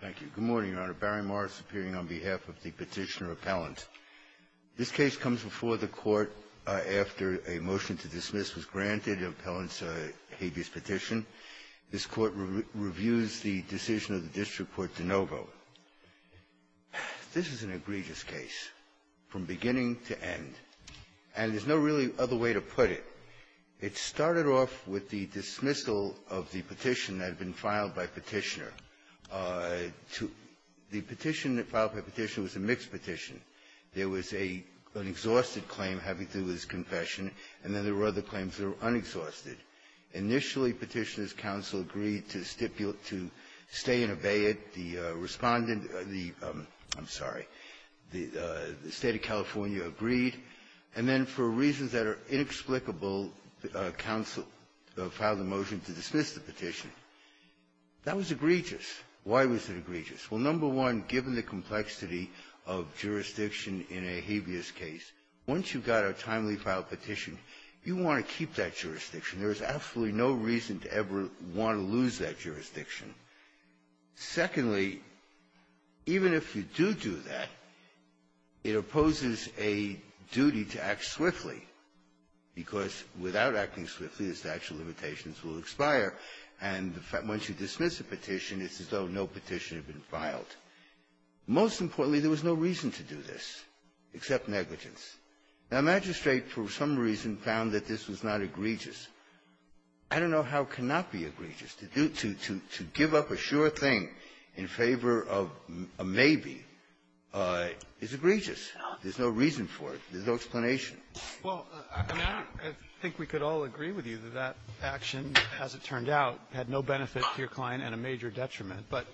Thank you. Good morning, Your Honor. Barry Morris appearing on behalf of the Petitioner-Appellant. This case comes before the Court after a motion to dismiss was granted an appellant's habeas petition. This Court reviews the decision of the district court to no vote. This is an egregious case from beginning to end. And there's no really other way to put it. It started off with the dismissal of the petition that had been filed by Petitioner. The petition that filed by Petitioner was a mixed petition. There was an exhausted claim having to do with his confession, and then there were other claims that were unexhausted. Initially, Petitioner's counsel agreed to stipulate to stay and obey it. The Respondent of the — I'm sorry — the State of California agreed. And then, for reasons that are inexplicable, counsel filed a motion to dismiss the petition. That was egregious. Why was it egregious? Well, number one, given the complexity of jurisdiction in a habeas case, once you've got a timely filed petition, you want to keep that jurisdiction. There is absolutely no reason to ever want to lose that jurisdiction. Secondly, even if you do do that, it opposes a duty to act swiftly, because without acting swiftly, the statute of limitations will expire. And once you dismiss a petition, it's as though no petition had been filed. Most importantly, there was no reason to do this except negligence. Now, Magistrate, for some reason, found that this was not egregious. I don't know how it cannot be egregious. To do — to give up a sure thing in favor of a maybe is egregious. There's no reason for it. There's no explanation. Well, I think we could all agree with you that that action, as it turned out, had no benefit to your client and a major detriment. But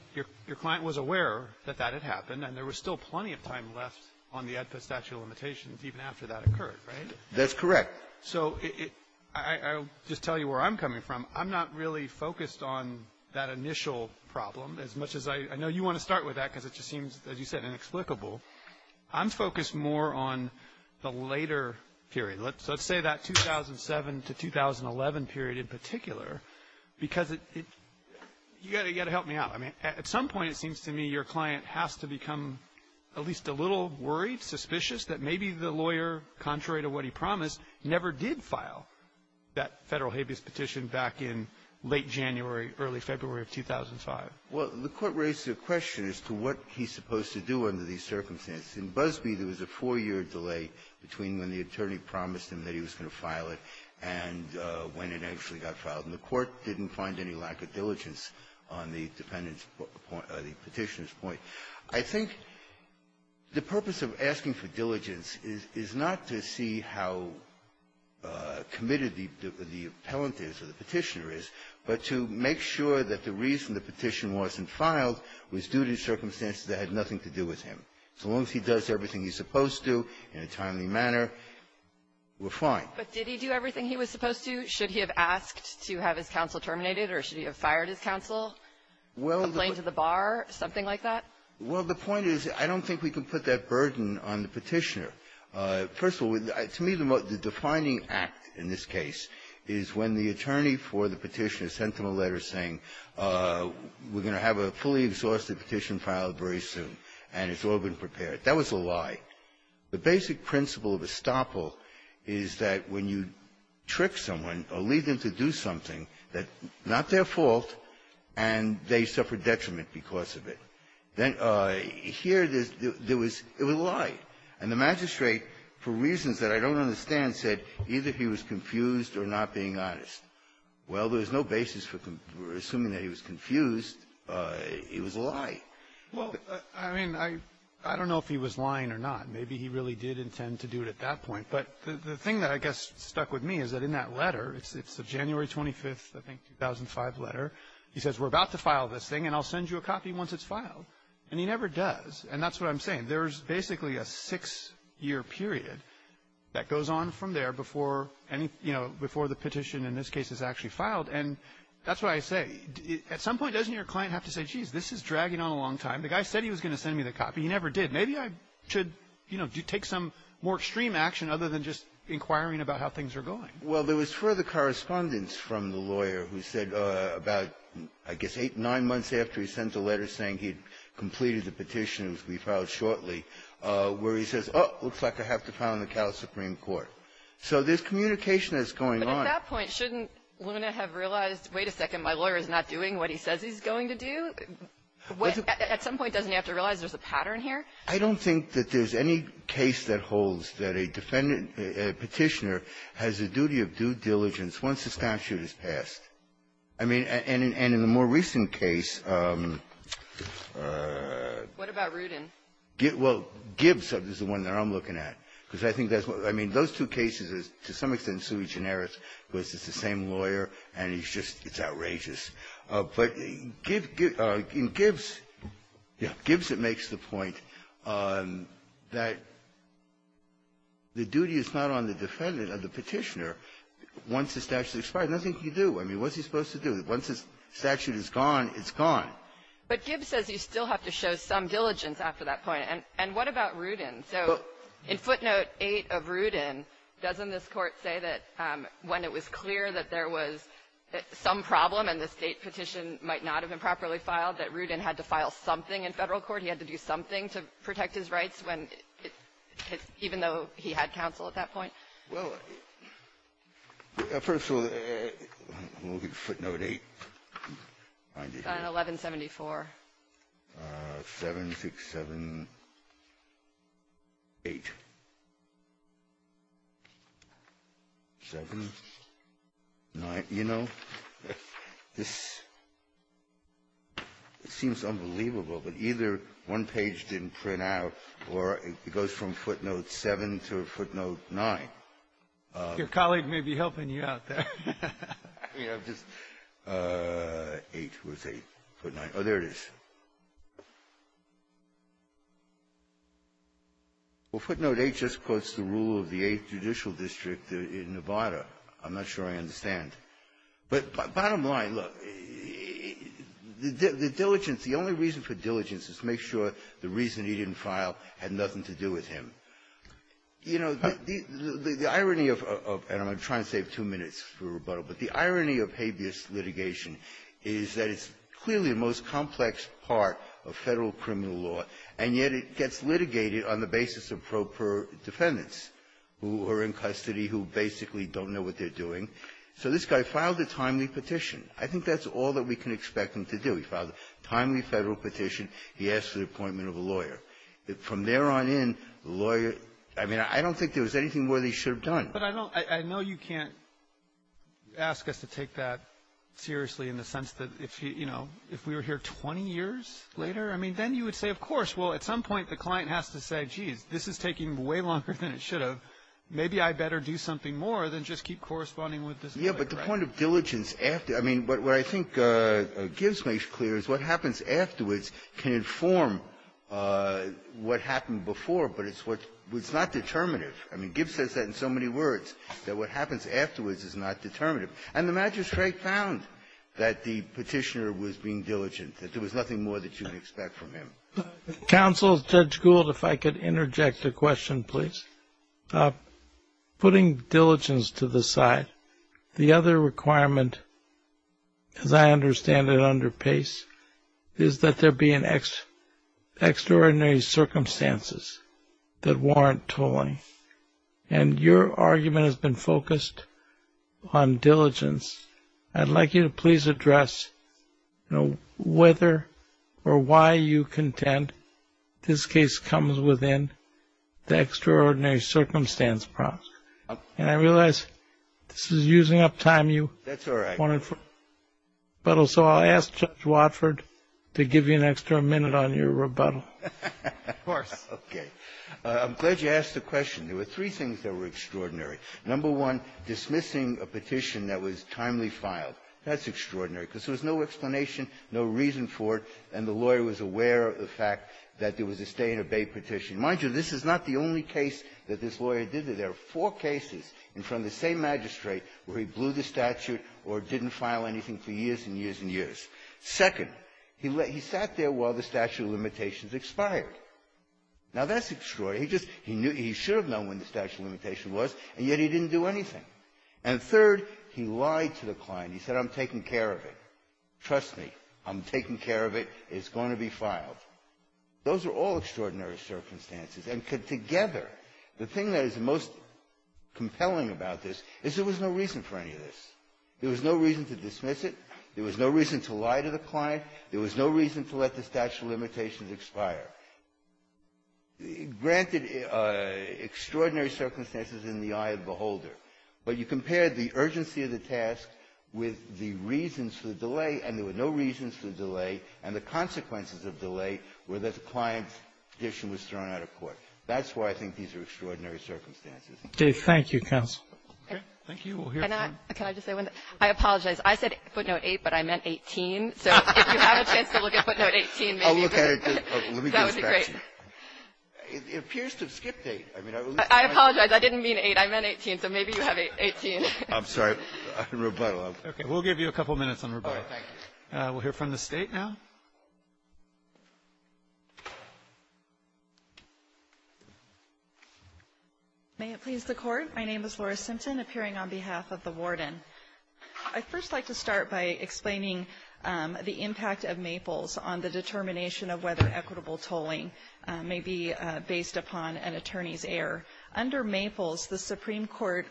your client was aware that that had happened, and there was still plenty of time left on the statute of limitations even after that occurred, right? That's correct. So I'll just tell you where I'm coming from. I'm not really focused on that initial problem as much as I — I know you want to start with that because it just seems, as you said, inexplicable. I'm focused more on the later period. Let's say that 2007 to 2011 period in particular, because it — you got to help me out. I mean, at some point, it seems to me your client has to become at least a little worried, suspicious that maybe the lawyer, contrary to what he promised, never did file that Federal habeas petition back in late January, early February of 2005. Well, the Court raised a question as to what he's supposed to do under these circumstances. In Busbee, there was a four-year delay between when the attorney promised him that he was going to file it and when it actually got filed. And the Court didn't find any lack of diligence on the defendant's point — or the Petitioner's point. I think the purpose of asking for diligence is not to see how committed the — the appellant is or the Petitioner is, but to make sure that the reason the petition wasn't filed was due to circumstances that had nothing to do with him. As long as he does everything he's supposed to in a timely manner, we're fine. But did he do everything he was supposed to? Should he have asked to have his counsel terminated, or should he have fired his counsel, a plane to the bar, something like that? Well, the point is, I don't think we can put that burden on the Petitioner. First of all, to me, the defining act in this case is when the attorney for the Petitioner sent him a letter saying, we're going to have a fully exhausted petition filed very soon, and we've been prepared. That was a lie. The basic principle of estoppel is that when you trick someone or lead them to do something that's not their fault, and they suffer detriment because of it. Then here there's — there was — it was a lie. And the magistrate, for reasons that I don't understand, said either he was confused or not being honest. Well, there's no basis for assuming that he was confused. It was a lie. Well, I mean, I don't know if he was lying or not. Maybe he really did intend to do it at that point. But the thing that I guess stuck with me is that in that letter, it's a January 25th, I think, 2005 letter, he says, we're about to file this thing, and I'll send you a copy once it's filed. And he never does. And that's what I'm saying. There's basically a six-year period that goes on from there before any — you know, before the petition in this case is actually filed. And that's why I say, at some point, doesn't your client have to say, jeez, this is taking a long time? The guy said he was going to send me the copy. He never did. Maybe I should, you know, take some more extreme action other than just inquiring about how things are going. Well, there was further correspondence from the lawyer who said about, I guess, eight, nine months after he sent the letter saying he'd completed the petition, it was going to be filed shortly, where he says, oh, looks like I have to file in the Cal Supreme Court. So there's communication that's going on. But at that point, shouldn't Luna have realized, wait a second, my lawyer is not doing what he says he's going to do? At some point, doesn't he have to realize there's a pattern here? I don't think that there's any case that holds that a defendant, a Petitioner, has a duty of due diligence once the statute is passed. I mean, and in the more recent case — What about Rudin? Well, Gibbs is the one that I'm looking at. Because I think that's what — I mean, those two cases, to some extent, Suey Generis was just the same lawyer, and he's just — it's outrageous. But in Gibbs, yeah, Gibbs makes the point that the duty is not on the defendant or the Petitioner once the statute is expired. Nothing can you do. I mean, what's he supposed to do? Once the statute is gone, it's gone. But Gibbs says you still have to show some diligence after that point. And what about Rudin? So in footnote 8 of Rudin, doesn't this Court say that when it was clear that there was some problem and the State petition might not have been properly filed, that Rudin had to file something in Federal court, he had to do something to protect his rights when — even though he had counsel at that point? Well, first of all, in footnote 8, find it here. It's on 1174. 7678, 7, 9. You know, this seems unbelievable. But either one page didn't print out, or it goes from footnote 7 to footnote 9. Your colleague may be helping you out there. I mean, I'm just — 8. Where's 8? Footnote 9. Oh, there it is. Well, footnote 8 just quotes the rule of the Eighth Judicial District in Nevada. I'm not sure I understand. But bottom line, look, the diligence, the only reason for diligence is to make sure the reason he didn't file had nothing to do with him. You know, the irony of — and I'm going to try and save two minutes for rebuttal — but the irony of habeas litigation is that it's clearly the most complex part of Federal criminal law, and yet it gets litigated on the basis of pro per defendants who are in custody, who basically don't know what they're doing. So this guy filed a timely petition. I think that's all that we can expect him to do. He filed a timely Federal petition. He asked for the appointment of a lawyer. From there on in, the lawyer — I mean, I don't think there was anything more they should have done. But I don't — I know you can't ask us to take that seriously in the sense that if he — you know, if we were here 20 years later, I mean, then you would say, of course. Well, at some point, the client has to say, geez, this is taking way longer than it should have. Maybe I better do something more than just keep corresponding with this lawyer. Yeah, but the point of diligence after — I mean, what I think Gibbs makes clear is what happens afterwards can inform what happened before, but it's what's not determinative. I mean, Gibbs says that in so many words, that what happens afterwards is not determinative. And the magistrate found that the petitioner was being diligent, that there was nothing more that you could expect from him. Counsel, Judge Gould, if I could interject a question, please. Putting diligence to the side, the other requirement, as I understand it, under Pace, is that there be an extraordinary circumstances that warrant tolling. And your argument has been focused on diligence. I'd like you to please address, you know, whether or why you contend this case comes within the extraordinary circumstance process. And I realize this is using up time, you — That's all right. So I'll ask Judge Watford to give you an extra minute on your rebuttal. Of course. Okay. I'm glad you asked the question. There were three things that were extraordinary. Number one, dismissing a petition that was timely filed. That's extraordinary because there was no explanation, no reason for it, and the lawyer was aware of the fact that there was a stay-and-obey petition. Mind you, this is not the only case that this lawyer did it. There are four cases in front of the same magistrate where he blew the statute or didn't file anything for years and years and years. Second, he sat there while the statute of limitations expired. Now, that's extraordinary. He just — he should have known when the statute of limitations was, and yet he didn't do anything. And third, he lied to the client. He said, I'm taking care of it. Trust me, I'm taking care of it. It's going to be filed. Those are all extraordinary circumstances. And together, the thing that is most compelling about this is there was no reason for any of this. There was no reason to dismiss it. There was no reason to lie to the client. There was no reason to let the statute of limitations expire. Granted, extraordinary circumstances in the eye of the beholder. But you compare the urgency of the task with the reasons for the delay, and there were no reasons for the delay, and the consequences of delay were that the client's petition was thrown out of court. That's why I think these are extraordinary circumstances. Roberts. Thank you, counsel. Can I just say one thing? I apologize. I said footnote 8, but I meant 18. So if you have a chance to look at footnote 18, maybe you could. That would be great. It appears to have skipped 8. I apologize. I didn't mean 8. I meant 18. So maybe you have 18. I'm sorry. I'll rebuttal. Okay. We'll give you a couple minutes on rebuttal. All right. Thank you. We'll hear from the State now. May it please the Court. My name is Laura Simpson, appearing on behalf of the Warden. I'd first like to start by explaining the impact of Maples on the determination of whether equitable tolling may be based upon an attorney's error. Under Maples, the Supreme Court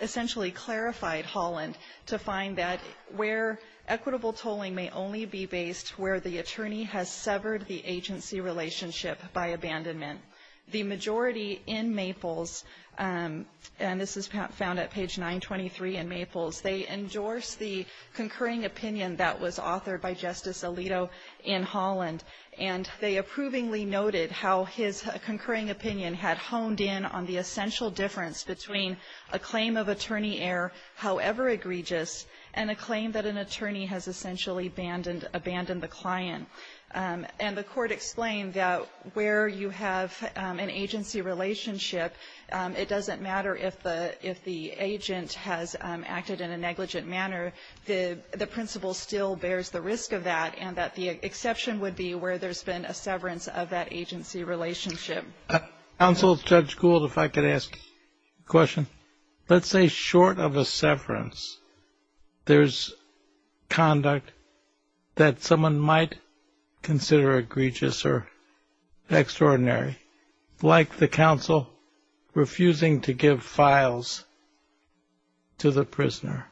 essentially clarified Holland to find that where equitable tolling may only be based where the attorney has severed the agency relationship by abandonment. The majority in Maples, and this is found at page 923 in Maples, they endorsed the concurring opinion that was authored by Justice Alito in Holland, and they approvingly noted how his concurring opinion had honed in on the essential difference between a claim of attorney error, however egregious, and a claim that an attorney has essentially abandoned the client. And the Court explained that where you have an agency relationship, it doesn't matter if the agent has acted in a negligent manner. The principle still bears the risk of that, and that the exception would be where there's been a severance of that agency relationship. Counsel, Judge Gould, if I could ask a question. Let's say short of a severance, there's conduct that someone might consider egregious or extraordinary, like the counsel refusing to give files to the prisoner.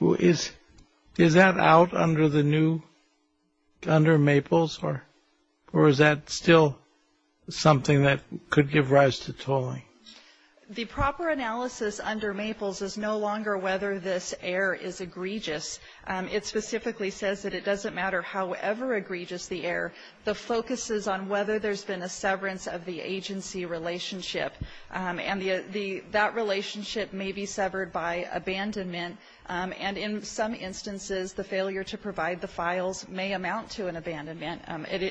Is that out under the new, under Maples, or is that still something that could give rise to tolling? The proper analysis under Maples is no longer whether this error is egregious. It specifically says that it doesn't matter however egregious the error, the focus is on whether there's been a severance of the agency relationship. And that relationship may be severed by abandonment. And in some instances, the failure to provide the files may amount to an abandonment.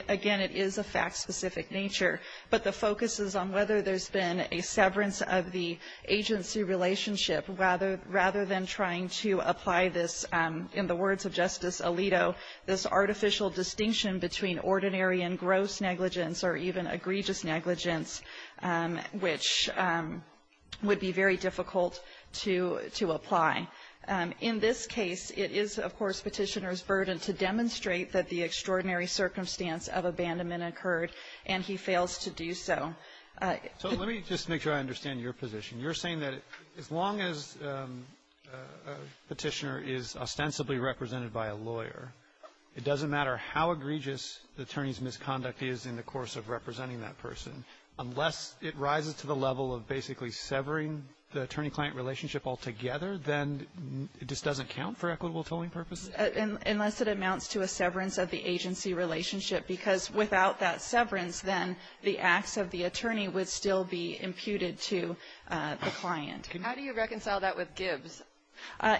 Again, it is a fact-specific nature. But the focus is on whether there's been a severance of the agency relationship rather than trying to apply this, in the words of Justice Alito, this artificial distinction between ordinary and gross negligence or even egregious negligence, which would be very difficult to apply. In this case, it is, of course, Petitioner's burden to demonstrate that the extraordinary circumstance of abandonment occurred, and he fails to do so. So let me just make sure I understand your position. You're saying that as long as Petitioner is ostensibly represented by a lawyer, it doesn't matter how egregious the attorney's misconduct is in the course of representing that person, unless it rises to the level of basically severing the attorney-client relationship altogether, then it just doesn't count for equitable tolling purposes? Unless it amounts to a severance of the agency relationship, because without that severance, then the acts of the attorney would still be imputed to the client. How do you reconcile that with Gibbs?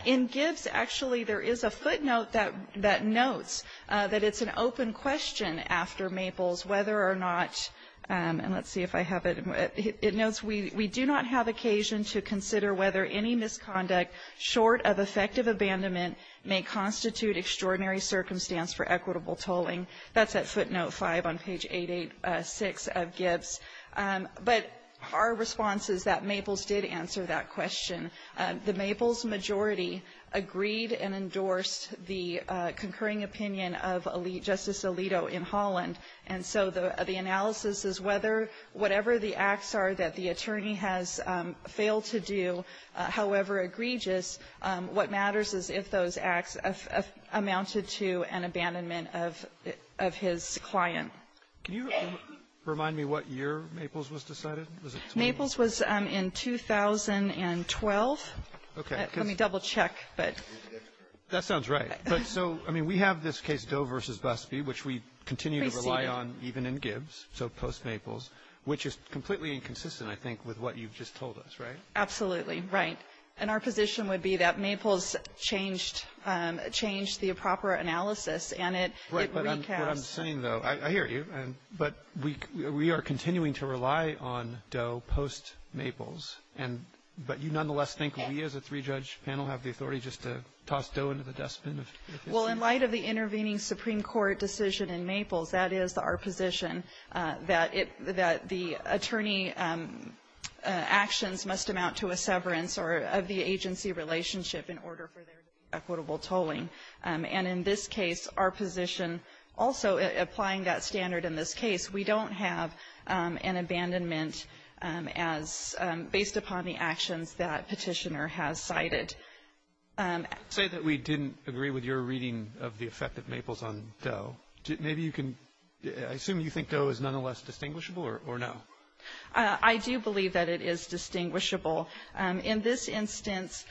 In Gibbs, actually, there is a footnote that notes that it's an open question after Maples whether or not, and let's see if I have it, it notes, we do not have occasion to consider whether any misconduct short of effective abandonment may constitute extraordinary circumstance for equitable tolling. That's at footnote 5 on page 886 of Gibbs. But our response is that Maples did answer that question. The Maples majority agreed and endorsed the concurring opinion of Justice Alito in Holland, and so the analysis is whether whatever the acts are that the attorney has failed to do, however egregious, what matters is if those acts have amounted to an abandonment of his client. Can you remind me what year Maples was decided? Maples was in 2012. Okay. Let me double-check, but that's correct. We continue to rely on even in Gibbs, so post-Maples, which is completely inconsistent, I think, with what you've just told us, right? Absolutely, right. And our position would be that Maples changed the proper analysis, and it recast. Right, but what I'm saying, though, I hear you, but we are continuing to rely on Doe post-Maples, but you nonetheless think we as a three-judge panel have the authority just to toss Doe into the dustbin of this? Well, in light of the intervening Supreme Court decision in Maples, that is our position, that the attorney actions must amount to a severance of the agency relationship in order for there to be equitable tolling. And in this case, our position also applying that standard in this case, we don't have an abandonment based upon the actions that Petitioner has cited. Say that we didn't agree with your reading of the effect of Maples on Doe. Maybe you can, I assume you think Doe is nonetheless distinguishable or no? I do believe that it is distinguishable. In this instance,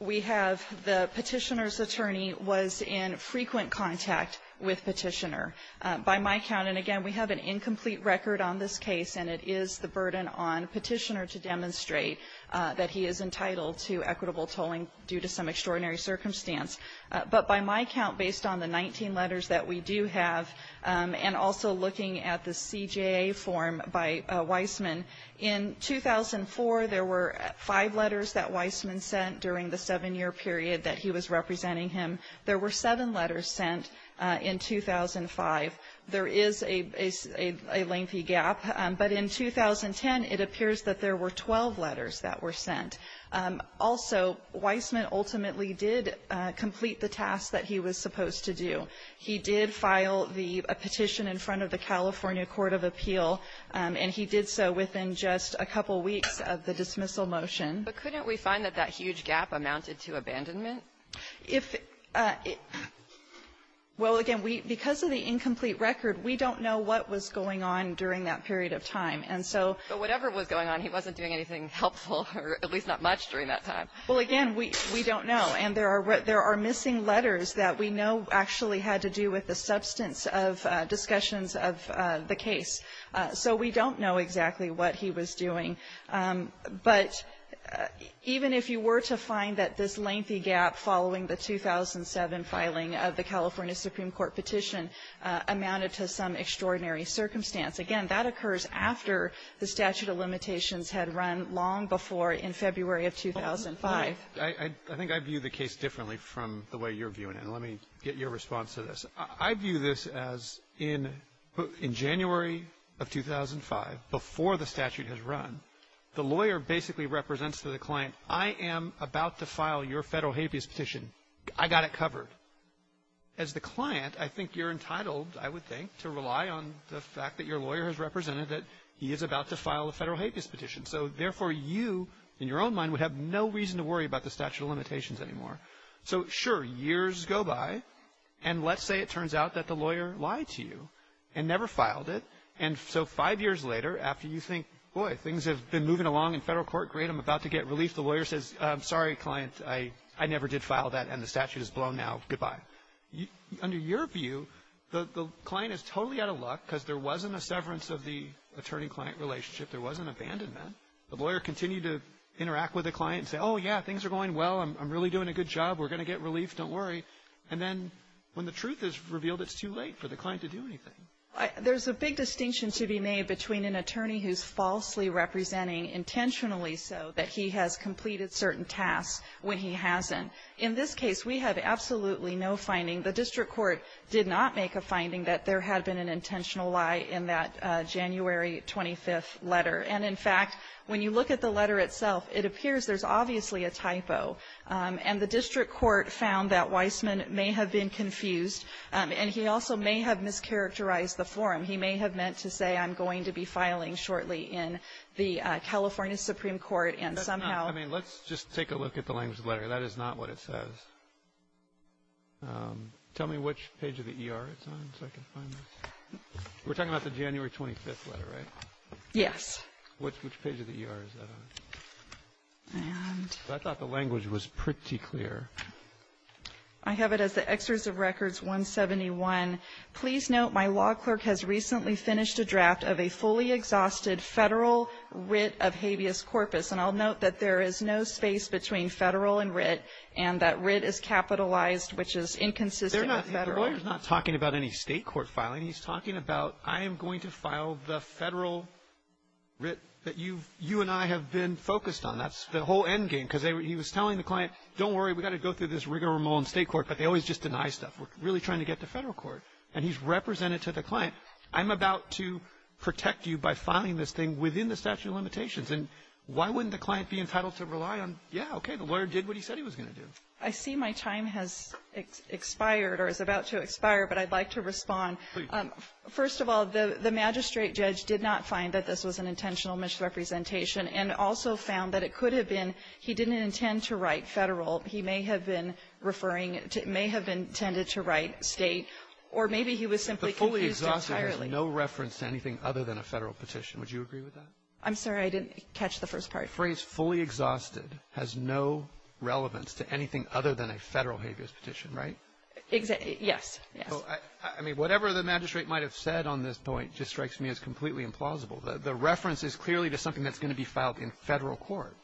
we have the Petitioner's attorney was in frequent contact with Petitioner. By my count, and again, we have an incomplete record on this case, and it is the he is entitled to equitable tolling due to some extraordinary circumstance. But by my count, based on the 19 letters that we do have, and also looking at the CJA form by Weissman, in 2004, there were five letters that Weissman sent during the seven-year period that he was representing him. There were seven letters sent in 2005. There is a lengthy gap, but in 2010, it appears that there were 12 letters that were sent. Also, Weissman ultimately did complete the task that he was supposed to do. He did file the petition in front of the California Court of Appeal, and he did so within just a couple weeks of the dismissal motion. But couldn't we find that that huge gap amounted to abandonment? If well, again, because of the incomplete record, we don't know what was going on during that period of time. But whatever was going on, he wasn't doing anything helpful, or at least not much during that time. Well, again, we don't know. And there are missing letters that we know actually had to do with the substance of discussions of the case. So we don't know exactly what he was doing. But even if you were to find that this lengthy gap following the 2007 filing of the California Supreme Court petition amounted to some extraordinary circumstance, again, that occurs after the statute of limitations had run long before in February of 2005. I think I view the case differently from the way you're viewing it. And let me get your response to this. I view this as in January of 2005, before the statute had run, the lawyer basically represents to the client, I am about to file your Federal habeas petition. I got it covered. But as the client, I think you're entitled, I would think, to rely on the fact that your lawyer has represented that he is about to file a Federal habeas petition. So therefore, you, in your own mind, would have no reason to worry about the statute of limitations anymore. So sure, years go by, and let's say it turns out that the lawyer lied to you and never filed it. And so five years later, after you think, boy, things have been moving along in federal court, great, I'm about to get relief, the lawyer says, I'm sorry, client, I never did file that, and the statute is blown now. Goodbye. Under your view, the client is totally out of luck because there wasn't a severance of the attorney-client relationship. There wasn't abandonment. The lawyer continued to interact with the client and say, oh, yeah, things are going well. I'm really doing a good job. We're going to get relief. Don't worry. And then when the truth is revealed, it's too late for the client to do anything. There's a big distinction to be made between an attorney who's falsely representing, intentionally so, that he has completed certain tasks when he hasn't. In this case, we have absolutely no finding. The district court did not make a finding that there had been an intentional lie in that January 25th letter. And, in fact, when you look at the letter itself, it appears there's obviously a typo. And the district court found that Weissman may have been confused, and he also may have mischaracterized the form. He may have meant to say, I'm going to be filing shortly in the California Supreme Court, and somehow That's not. I mean, let's just take a look at the language of the letter. That is not what it says. Tell me which page of the ER it's on so I can find it. We're talking about the January 25th letter, right? Yes. Which page of the ER is that on? I thought the language was pretty clear. I have it as the Excerpt of Records 171. Please note, my law clerk has recently finished a draft of a fully exhausted federal writ of habeas corpus. And I'll note that there is no space between federal and writ, and that writ is capitalized, which is inconsistent with federal. The lawyer's not talking about any state court filing. He's talking about, I am going to file the federal writ that you and I have been focused on. That's the whole endgame. Because he was telling the client, don't worry, we've got to go through this rigmarole in state court. But they always just deny stuff. We're really trying to get to federal court. And he's represented to the client. I'm about to protect you by filing this thing within the statute of limitations. And why wouldn't the client be entitled to rely on, yeah, okay, the lawyer did what he said he was going to do? I see my time has expired or is about to expire, but I'd like to respond. Please. First of all, the magistrate judge did not find that this was an intentional misrepresentation and also found that it could have been he didn't intend to write federal. He may have been referring to it may have been intended to write state or maybe he was simply confused entirely. The fully exhausted has no reference to anything other than a federal petition. Would you agree with that? I'm sorry. I didn't catch the first part. The phrase fully exhausted has no relevance to anything other than a federal habeas petition, right? Exactly. Yes. Yes. I mean, whatever the magistrate might have said on this point just strikes me as completely implausible. The reference is clearly to something that's going to be filed in federal court.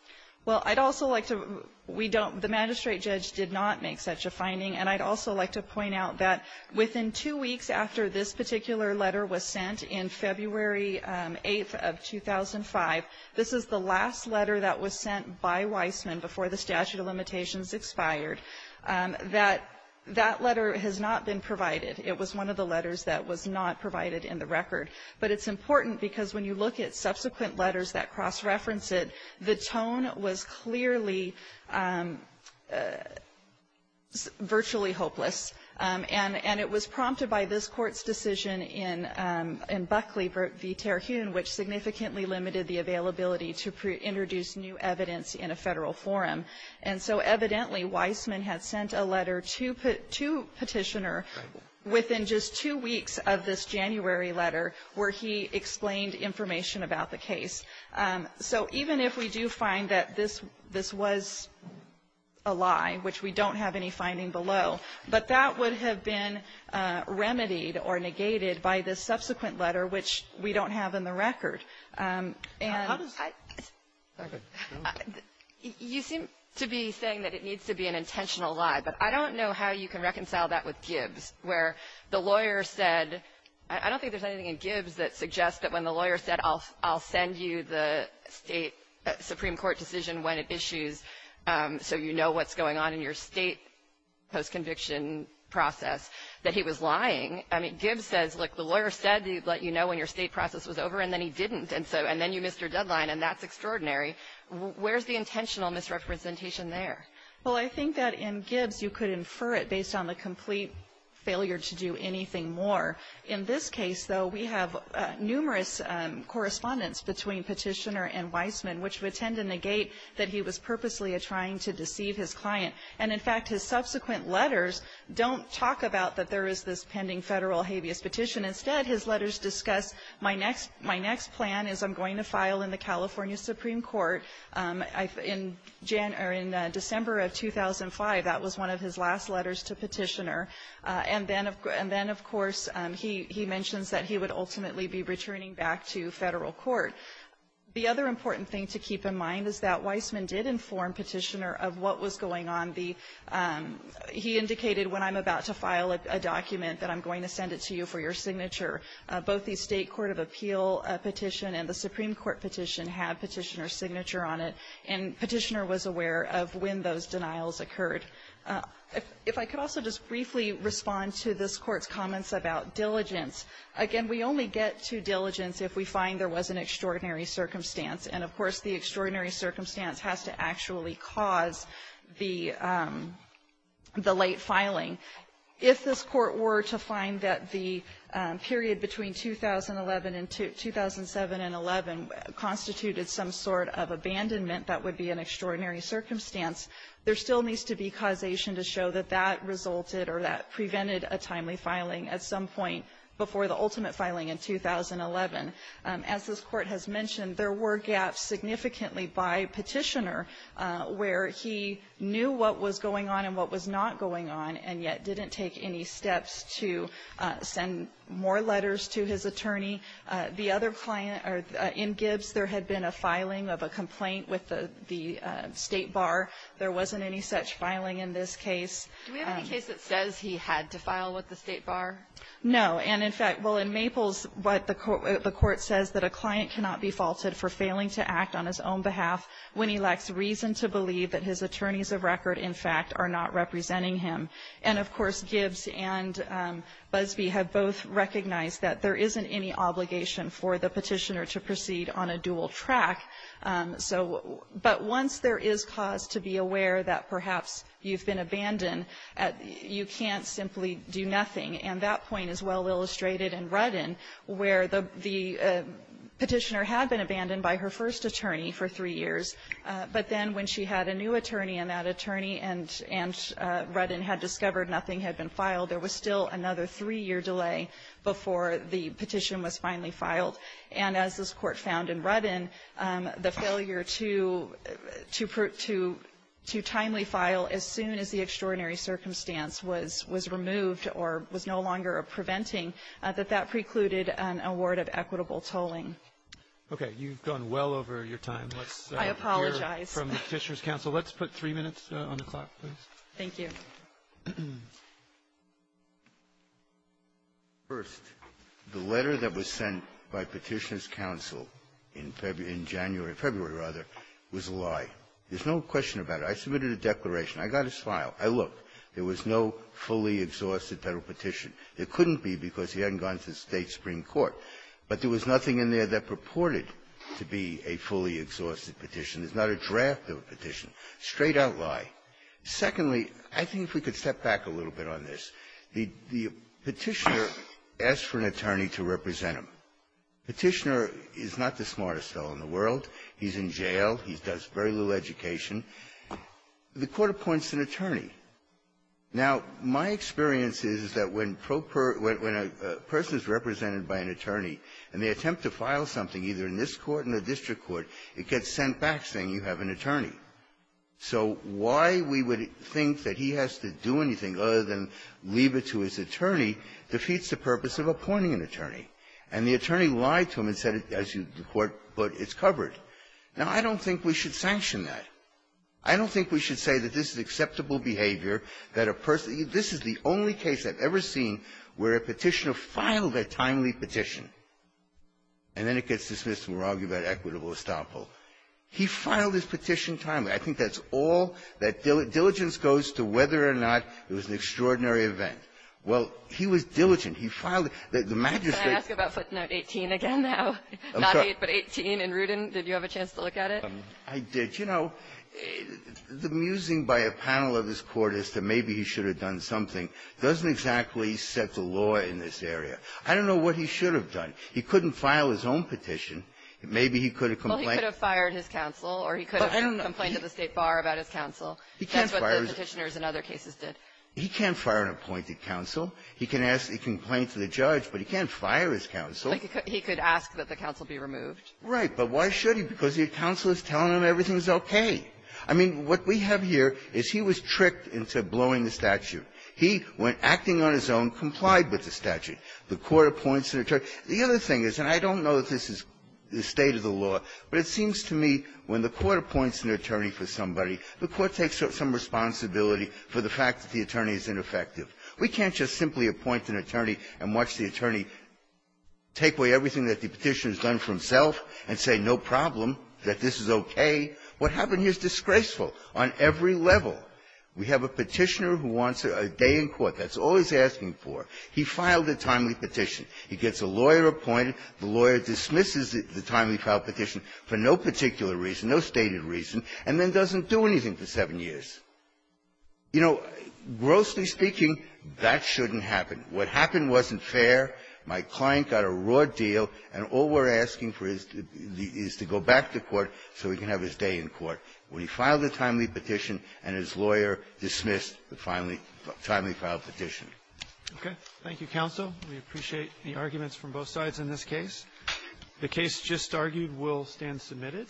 Well, I'd also like to we don't the magistrate judge did not make such a finding and I'd also like to point out that within two weeks after this particular letter was sent in February 8th of 2005, this is the last letter that was sent by Weissman before the statute of limitations expired. That that letter has not been provided. It was one of the letters that was not provided in the record. But it's important because when you look at subsequent letters that cross reference it, the tone was clearly virtually hopeless. And it was prompted by this Court's decision in Buckley v. Terhune, which significantly limited the availability to introduce new evidence in a federal forum. And so evidently Weissman had sent a letter to Petitioner within just two weeks of this January letter where he explained information about the case. So even if we do find that this was a lie, which we don't have any finding below, but that would have been remedied or negated by the subsequent letter, which we don't have in the record. And you seem to be saying that it needs to be an intentional lie, but I don't know how you can reconcile that with Gibbs, where the lawyer said I don't think there's anything in Gibbs that suggests that when the lawyer said I'll send you the Supreme Court decision when it issues, so you know what's going on in your state post-conviction process, that he was lying. I mean, Gibbs says, look, the lawyer said he'd let you know when your state process was over, and then he didn't. And then you missed your deadline, and that's extraordinary. Where's the intentional misrepresentation there? Well, I think that in Gibbs you could infer it based on the complete failure to do anything more. In this case, though, we have numerous correspondence between Petitioner and Weissman which would tend to negate that he was purposely trying to deceive his client. And in fact, his subsequent letters don't talk about that there is this pending Federal habeas petition. Instead, his letters discuss my next plan is I'm going to file in the California Supreme Court in December of 2005. That was one of his last letters to Petitioner. And then, of course, he mentions that he would ultimately be returning back to Federal Court. The other important thing to keep in mind is that Weissman did inform Petitioner of what was going on. He indicated, when I'm about to file a document, that I'm going to send it to you for your signature. Both the State Court of Appeal petition and the Supreme Court petition had Petitioner's signature on it, and Petitioner was aware of when those denials occurred. If I could also just briefly respond to this Court's comments about diligence. Again, we only get to diligence if we find there was an extraordinary circumstance. And, of course, the extraordinary circumstance has to actually cause the late filing. If this Court were to find that the period between 2011 and 2007 and 2011 constituted some sort of abandonment that would be an extraordinary circumstance, there still needs to be causation to show that that resulted or that prevented a timely filing at some point before the ultimate filing in 2011. As this Court has mentioned, there were gaps significantly by Petitioner where he knew what was going on and what was not going on, and yet didn't take any steps to send more letters to his attorney. The other client in Gibbs, there had been a filing of a complaint with the State Bar. There wasn't any such filing in this case. Kagan. Do we have any case that says he had to file with the State Bar? No. And, in fact, well, in Maples, what the Court says that a client cannot be faulted for failing to act on his own behalf when he lacks reason to believe that his attorneys of record, in fact, are not representing him. And, of course, Gibbs and Busbee have both recognized that there isn't any obligation for the Petitioner to proceed on a dual track. So but once there is cause to be aware that perhaps you've been abandoned, you can't simply do nothing. And that point is well illustrated in Ruddin where the Petitioner had been abandoned by her first attorney for three years, but then when she had a new attorney and that attorney and Ruddin had discovered nothing had been filed, there was still another three-year delay before the petition was finally filed. And as this Court found in Ruddin, the failure to timely file as soon as the extraordinary circumstance was removed or was no longer a preventing, that that precluded an award of equitable tolling. Okay. You've gone well over your time. I apologize. Let's hear from the Petitioner's counsel. Let's put three minutes on the clock, please. Thank you. First, the letter that was sent by Petitioner's counsel in February, in January or February, rather, was a lie. There's no question about it. I submitted a declaration. I got his file. I looked. There was no fully exhausted Federal petition. There couldn't be because he hadn't gone to the State supreme court. But there was nothing in there that purported to be a fully exhausted petition. There's not a draft of a petition. Straight-out lie. Secondly, I think if we could step back a little bit on this, the Petitioner asked for an attorney to represent him. Petitioner is not the smartest fellow in the world. He's in jail. He does very little education. The Court appoints an attorney. Now, my experience is that when a person is represented by an attorney and they attempt to file something, either in this Court or the district court, it gets sent back saying you have an attorney. So why we would think that he has to do anything other than leave it to his attorney defeats the purpose of appointing an attorney. And the attorney lied to him and said, as the Court put, it's covered. Now, I don't think we should sanction that. I don't think we should say that this is acceptable behavior that a person – this is the only case I've ever seen where a Petitioner filed a timely petition and then it gets dismissed and we're arguing about equitable estoppel. He filed his petition timely. I think that's all that – diligence goes to whether or not it was an extraordinary event. Well, he was diligent. He filed it. The Majesty – Can I ask about footnote 18 again now? I'm sorry. Not 8, but 18 in Rudin. Did you have a chance to look at it? I did. You know, the musing by a panel of this Court as to maybe he should have done something doesn't exactly set the law in this area. I don't know what he should have done. He couldn't file his own petition. Maybe he could have complained. Well, he could have fired his counsel, or he could have complained to the State Bar about his counsel. He can't fire his – That's what the Petitioners in other cases did. He can't fire an appointed counsel. He can ask a complaint to the judge, but he can't fire his counsel. He could ask that the counsel be removed. Right. But why should he? Because the counsel is telling him everything's okay. I mean, what we have here is he was tricked into blowing the statute. He, when acting on his own, complied with the statute. The Court appoints the attorney. The other thing is, and I don't know that this is the state of the law, but it seems to me when the Court appoints an attorney for somebody, the Court takes some responsibility for the fact that the attorney is ineffective. We can't just simply appoint an attorney and watch the attorney take away everything that the Petitioner's done for himself and say, no problem, that this is okay. What happened here is disgraceful on every level. We have a Petitioner who wants a day in court. That's all he's asking for. He filed a timely petition. He gets a lawyer appointed. The lawyer dismisses the timely filed petition for no particular reason, no stated reason, and then doesn't do anything for seven years. You know, grossly speaking, that shouldn't happen. What happened wasn't fair. My client got a raw deal, and all we're asking for is to go back to court so he can have his day in court. Well, he filed a timely petition, and his lawyer dismissed the timely filed petition. Okay. Thank you, counsel. We appreciate the arguments from both sides in this case. The case just argued will stand submitted.